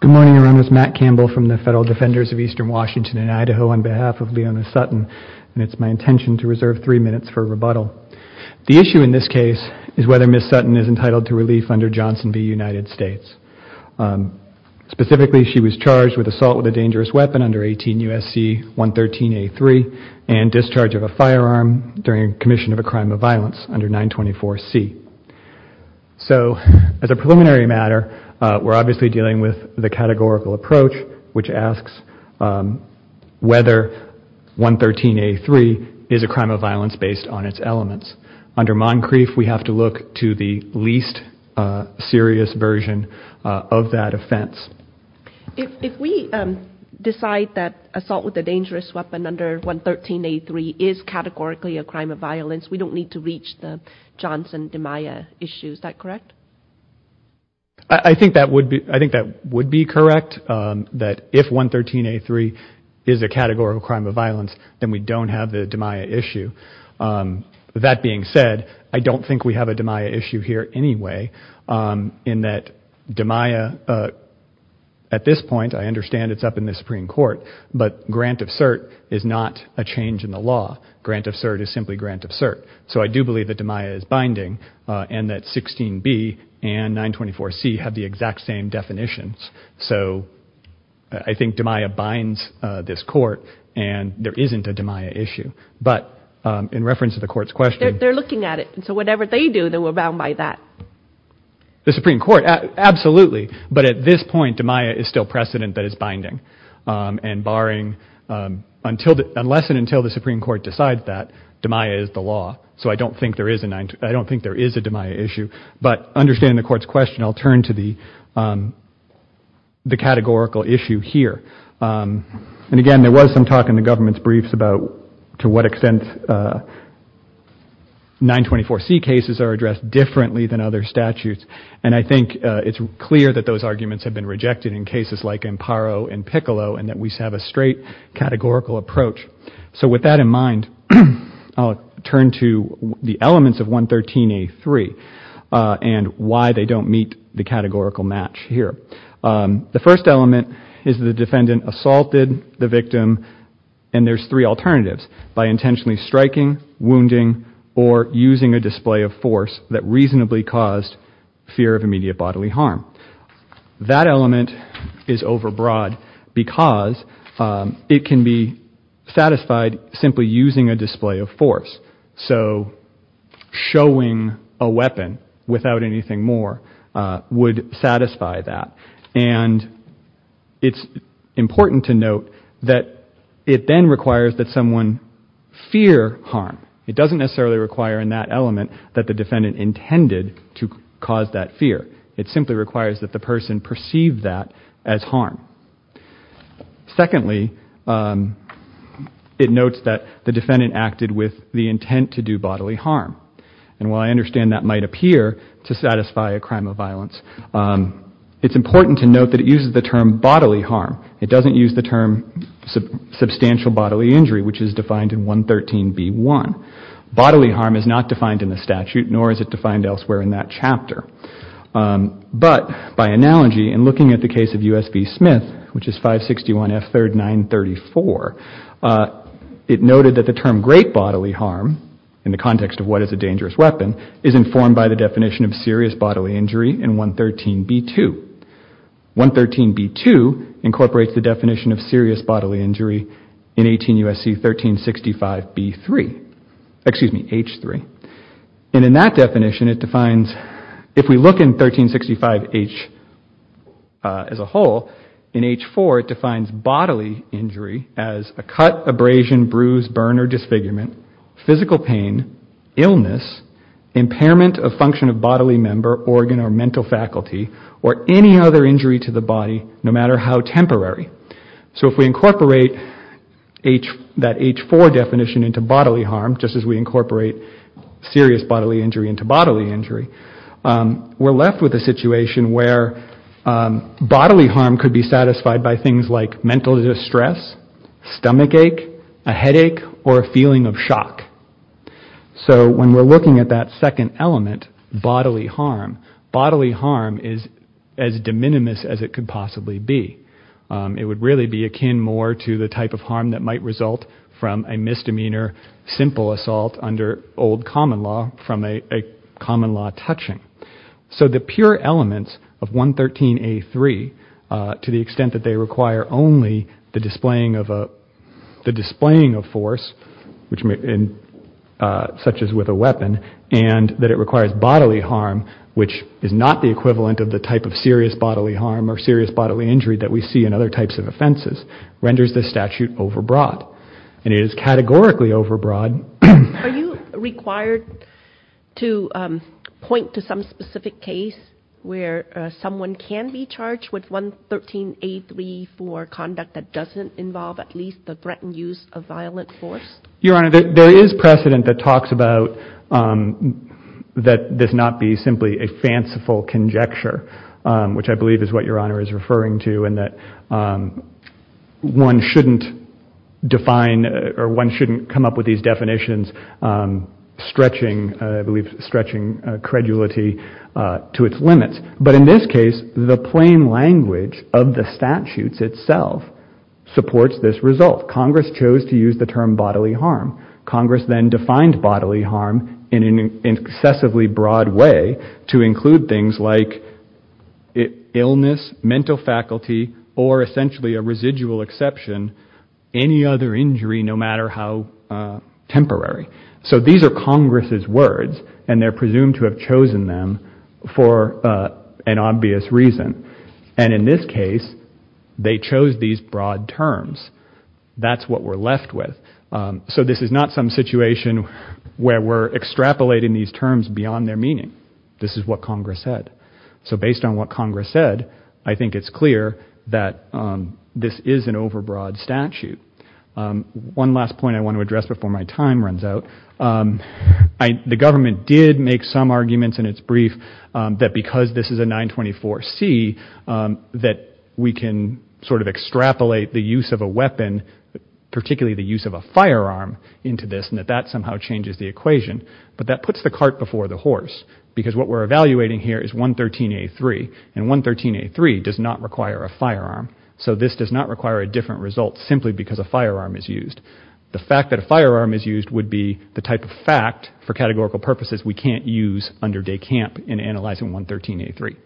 Good morning, everyone. This is Matt Campbell from the Federal Defenders of Eastern Washington and Idaho on behalf of Leona Sutton, and it's my intention to reserve three minutes for rebuttal. The issue in this case is whether Ms. Sutton is entitled to relief under Johnson v. United States. Specifically, she was charged with assault with a dangerous weapon under 18 U.S.C. 113A3 and discharge of a firearm during commission of a crime of violence under 924C. So, as a preliminary matter, we're obviously dealing with the categorical approach, which asks whether 113A3 is a crime of violence based on its elements. Under Moncrief, we have to look to the least serious version of that offense. If we decide that assault with a dangerous weapon under 113A3 is categorically a crime of violence, we don't need to reach the Johnson-Demeyer issue, is that correct? I think that would be correct, that if 113A3 is a categorical crime of violence, then we don't have the Demeyer issue. That being said, I don't think we have a Demeyer issue here anyway in that Demeyer, at this point, I understand it's up in the Supreme Court, but grant of cert. So, I do believe that Demeyer is binding and that 16B and 924C have the exact same definitions. So, I think Demeyer binds this court and there isn't a Demeyer issue. But, in reference to the court's question... They're looking at it. So, whatever they do, they will abound by that. The Supreme Court, absolutely. But, at this point, Demeyer is still precedent that it's the law. So, I don't think there is a Demeyer issue. But, understanding the court's question, I'll turn to the categorical issue here. And again, there was some talk in the government's briefs about to what extent 924C cases are addressed differently than other statutes. And I think it's clear that those arguments have been rejected in cases like Amparo and Turn to the elements of 113A3 and why they don't meet the categorical match here. The first element is the defendant assaulted the victim, and there's three alternatives, by intentionally striking, wounding, or using a display of force that reasonably caused fear of immediate bodily harm. That element is overbroad because it can be satisfied simply using a display of force. So, showing a weapon without anything more would satisfy that. And it's important to note that it then requires that someone fear harm. It doesn't necessarily require in that element that the defendant intended to cause that fear. It simply requires that the person perceive that as harm. Secondly, it notes that the defendant acted with the intent to do bodily harm. And while I understand that might appear to satisfy a crime of violence, it's important to note that it uses the term bodily harm. It doesn't use the term substantial bodily injury, which is defined in 113B1. Bodily harm is not defined in the statute, nor is it defined elsewhere in that chapter. But, by analogy, in looking at the case of U.S. v. Smith, which is 561F3 934, it noted that the term great bodily harm, in the context of what is a dangerous weapon, is informed by the definition of serious bodily injury in 113B2. 113B2 incorporates the definition of serious bodily injury in 18 U.S.C. 1365B3, excuse me, H3. And in that definition, it defines, if we look in 1365H as a whole, in H4, it defines bodily injury as a cut, abrasion, bruise, burn, or disfigurement, physical pain, illness, impairment of function of bodily member, organ, or mental faculty, or any other injury to the body, no matter how temporary. So if we incorporate that H4 definition into bodily harm, just as we incorporate serious bodily injury into bodily injury, we're left with a situation where bodily harm could be satisfied by things like mental distress, stomachache, a headache, or a feeling of shock. So when we're looking at that second element, bodily harm, bodily harm is as de minimis as it could possibly be. It would really be akin more to the type of harm that under old common law from a common law touching. So the pure elements of 113A3, to the extent that they require only the displaying of force, such as with a weapon, and that it requires bodily harm, which is not the equivalent of the type of serious bodily harm or serious bodily injury that we see in other types of offenses, renders this statute overbroad. And it is categorically overbroad. Are you required to point to some specific case where someone can be charged with 113A3 for conduct that doesn't involve at least the threatened use of violent force? Your Honor, there is precedent that talks about that this not be simply a fanciful conjecture, which I believe is what Your Honor is referring to, and that one shouldn't define or one shouldn't come up with these definitions stretching, I believe, stretching credulity to its limits. But in this case, the plain language of the statutes itself supports this result. Congress chose to use the term bodily harm. Congress then defined bodily harm in an excessively broad way to include things like illness, mental faculty, or essentially a residual exception, any other injury, no matter how temporary. So these are Congress's words, and they're presumed to have chosen them for an obvious reason. And in this case, they chose these broad terms. That's what we're left with. So this is not some situation where we're extrapolating these terms beyond their meaning. This is what we're left with. So based on what Congress said, I think it's clear that this is an overbroad statute. One last point I want to address before my time runs out. The government did make some arguments in its brief that because this is a 924C, that we can sort of extrapolate the use of a weapon, particularly the use of a firearm into this, and that that somehow changes the equation. But that puts the cart before the horse, because what we're evaluating here is 113A3, and 113A3 does not require a firearm. So this does not require a different result simply because a firearm is used. The fact that a firearm is used would be the type of fact, for categorical purposes, we can't use under de camp in analyzing 113A3. And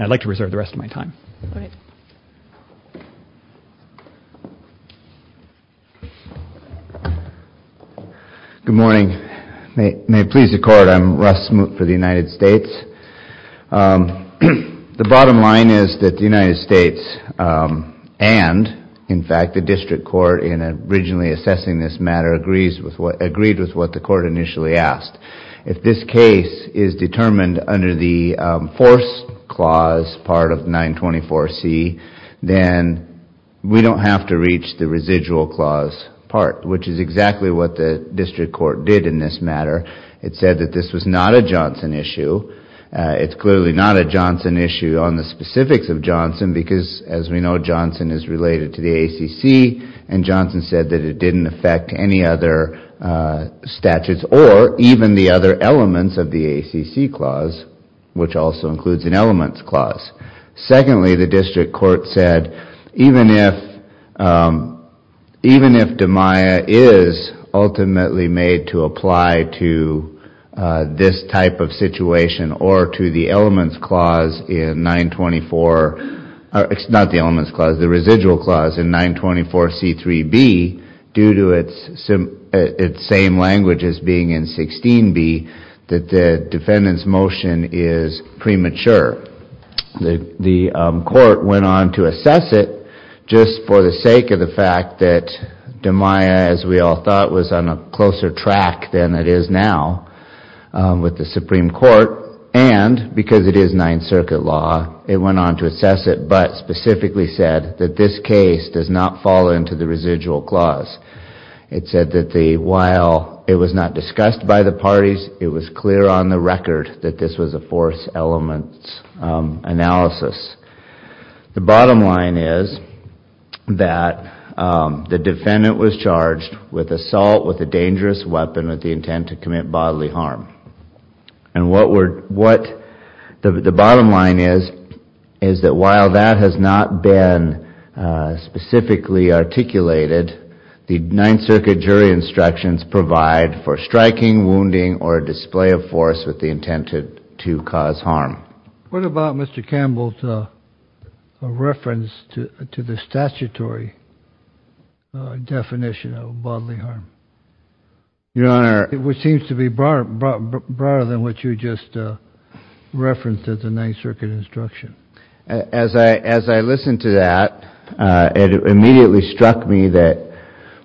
I'd like to reserve the rest of my time. Good morning. May it please the Court, I'm Russ Smoot for the United States. The bottom line is that the United States and, in fact, the District Court, in originally assessing this matter, agreed with what the court initially asked. If this case is determined under the 924C, then we don't have to reach the residual clause part, which is exactly what the District Court did in this matter. It said that this was not a Johnson issue. It's clearly not a Johnson issue on the specifics of Johnson, because, as we know, Johnson is related to the ACC, and Johnson said that it didn't affect any other statutes or even the other elements of the ACC clause, which also includes an elements clause. Secondly, the District Court said, even if Demeyer is ultimately made to apply to this type of situation or to the elements clause in 924, it's not the elements clause, the residual clause in 924C3B, due to its same language as being in 924C16B, that the defendant's motion is premature. The court went on to assess it, just for the sake of the fact that Demeyer, as we all thought, was on a closer track than it is now with the Supreme Court, and because it is Ninth Circuit law, it went on to assess it, but specifically said that this not fall into the residual clause. It said that while it was not discussed by the parties, it was clear on the record that this was a force elements analysis. The bottom line is that the defendant was charged with assault with a dangerous weapon with the intent to commit bodily harm, and what the bottom line is, is that while that has not been specifically articulated, the Ninth Circuit jury instructions provide for striking, wounding, or display of force with the intent to cause harm. What about Mr. Campbell's reference to the statutory definition of bodily harm? Your Honor. It seems to be broader than what you just referenced at the Ninth Circuit instruction. As I listen to that, it immediately struck me that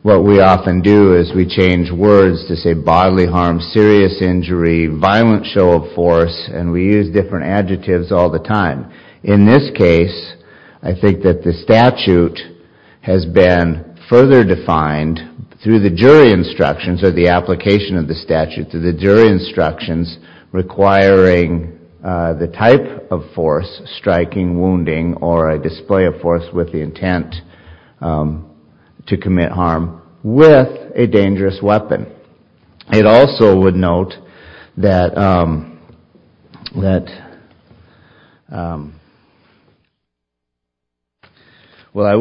what we often do is we change words to say bodily harm, serious injury, violent show of force, and we use different adjectives all the time. In this case, I think that the statute has been further defined through the jury instructions or the application of the statute to the jury instructions requiring the type of force, striking, wounding, or a display of force with the intent to commit harm with a dangerous weapon. It also would note that, well, I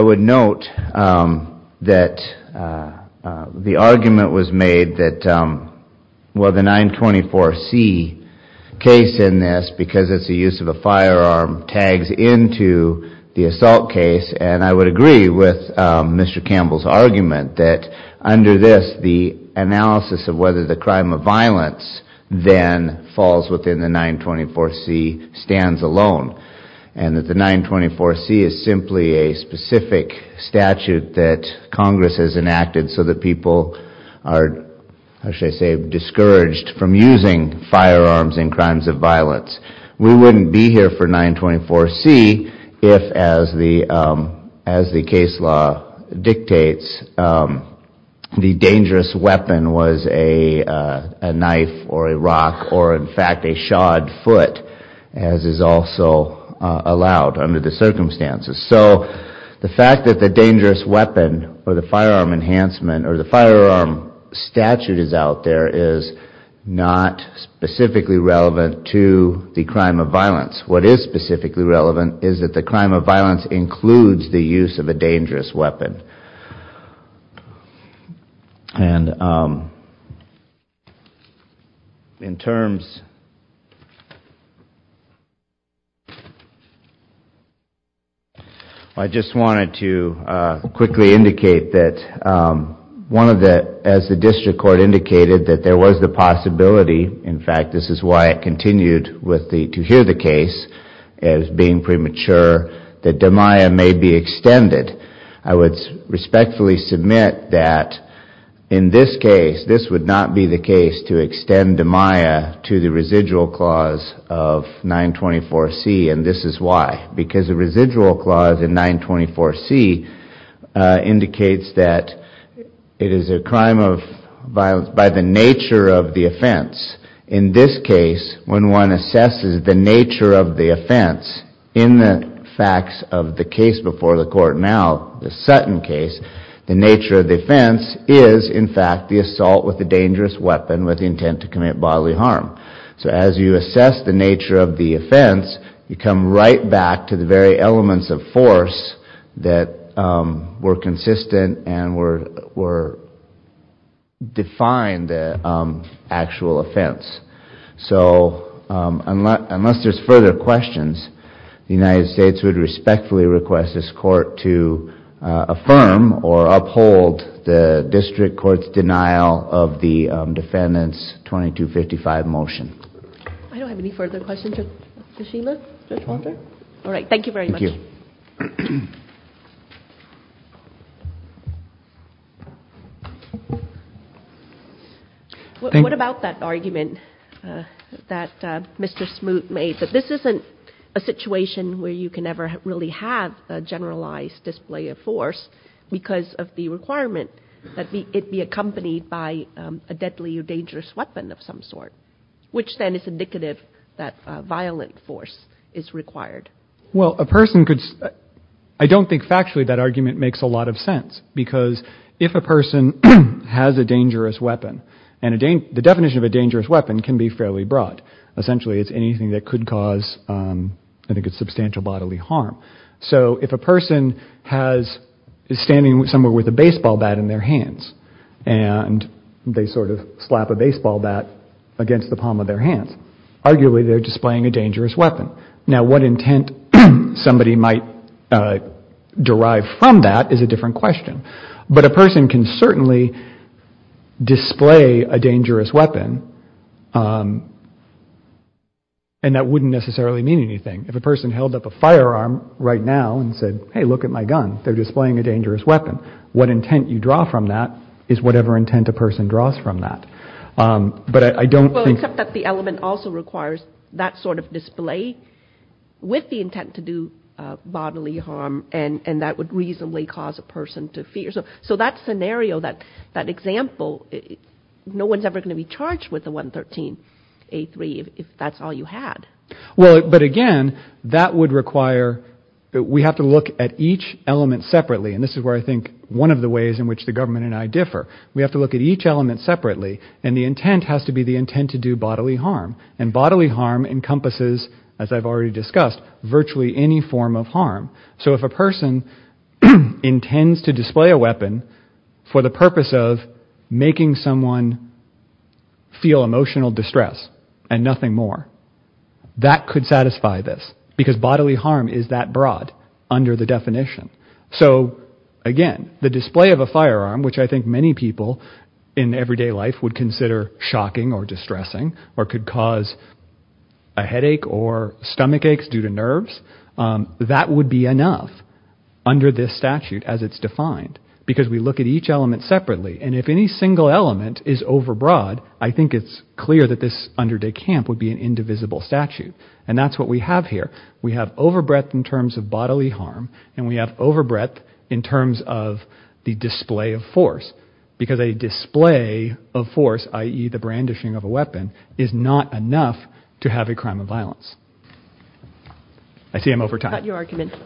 would note that the argument was made that, well, the 924C case in this, because it's the use of a assault case, and I would agree with Mr. Campbell's argument that under this, the analysis of whether the crime of violence then falls within the 924C stands alone, and that the 924C is simply a specific statute that Congress has enacted so that people are, how should I say, discouraged from using firearms in crimes of violence. We wouldn't be here for 924C if, as the case law dictates, the dangerous weapon was a knife or a rock or, in fact, a shod foot, as is also allowed under the circumstances. So the fact that the dangerous to the crime of violence. What is specifically relevant is that the crime of violence includes the use of a dangerous weapon. And in terms, I just wanted to quickly indicate that one of the, as the district court indicated, that there was the possibility, in fact, this is why it continued with the, to hear the case as being premature, that DMIA may be extended. I would respectfully submit that in this case, this would not be the case to extend DMIA to the residual clause of 924C, and this is why. Because the residual clause in 924C indicates that it is a crime of violence by the nature of the offense. In this case, when one assesses the nature of the offense, in the facts of the case before the court now, the Sutton case, the nature of the offense is, in fact, the assault with a dangerous weapon with intent to commit bodily harm. So as you assess the nature of the offense, you come right back to the very elements of force that were defined the actual offense. So unless there's further questions, the United States would respectfully request this court to affirm or uphold the district court's denial of the defendant's 2255 motion. I don't have any further questions. Judge Fischer? Judge Walker? All right. Thank you very much. Thank you. What about that argument that Mr. Smoot made, that this isn't a situation where you can ever really have a generalized display of force because of the requirement that it be accompanied by a deadly or dangerous weapon of some sort, which then is indicative that violent force is required? Well, a person could—I don't think factually that argument makes a lot of sense, because if a person has a dangerous weapon—and the definition of a dangerous weapon can be fairly broad. Essentially, it's anything that could cause, I think, a substantial bodily harm. So if a person is standing somewhere with a baseball bat in their hands, and they sort of slap a baseball bat against the palm of their hands, arguably they're displaying a dangerous weapon. Now, what intent somebody might derive from that is a different question. But a person can certainly display a dangerous weapon, and that wouldn't necessarily mean anything. If a person held up a firearm right now and said, hey, look at my gun, they're displaying a dangerous weapon. What intent you draw from that is whatever intent a person draws from that. But I don't think— Well, except that the element also requires that sort of display with the intent to do bodily harm, and that would reasonably cause a person to fear. So that scenario, that example, no one's ever going to be charged with a 113A3 if that's all you had. Well, but again, that would require that we have to look at each element separately. And this is where I think one of the ways in which the government and I differ. We have to look at each element separately, and the intent has to be the intent to do bodily harm. And bodily harm encompasses, as I've already discussed, virtually any form of harm. So if a person intends to display a weapon for the purpose of making someone feel emotional distress and nothing more, that could satisfy this. Because bodily harm is that broad under the definition. So again, the display of a firearm, which I think many people in everyday life would consider shocking or distressing, or could cause a headache or stomach aches due to nerves, that would be enough under this statute as it's defined. Because we look at each element separately. And if any single element is overbroad, I think it's clear that this under de camp would be an indivisible statute. And that's what we have here. We have overbreadth in terms of bodily harm, and we have overbreadth in terms of the display of force. Because a display of force, i.e., the brandishing of a weapon, is not enough to have a crime of violence. I see I'm over time.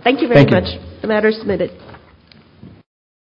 Thank you very much. The matter is submitted.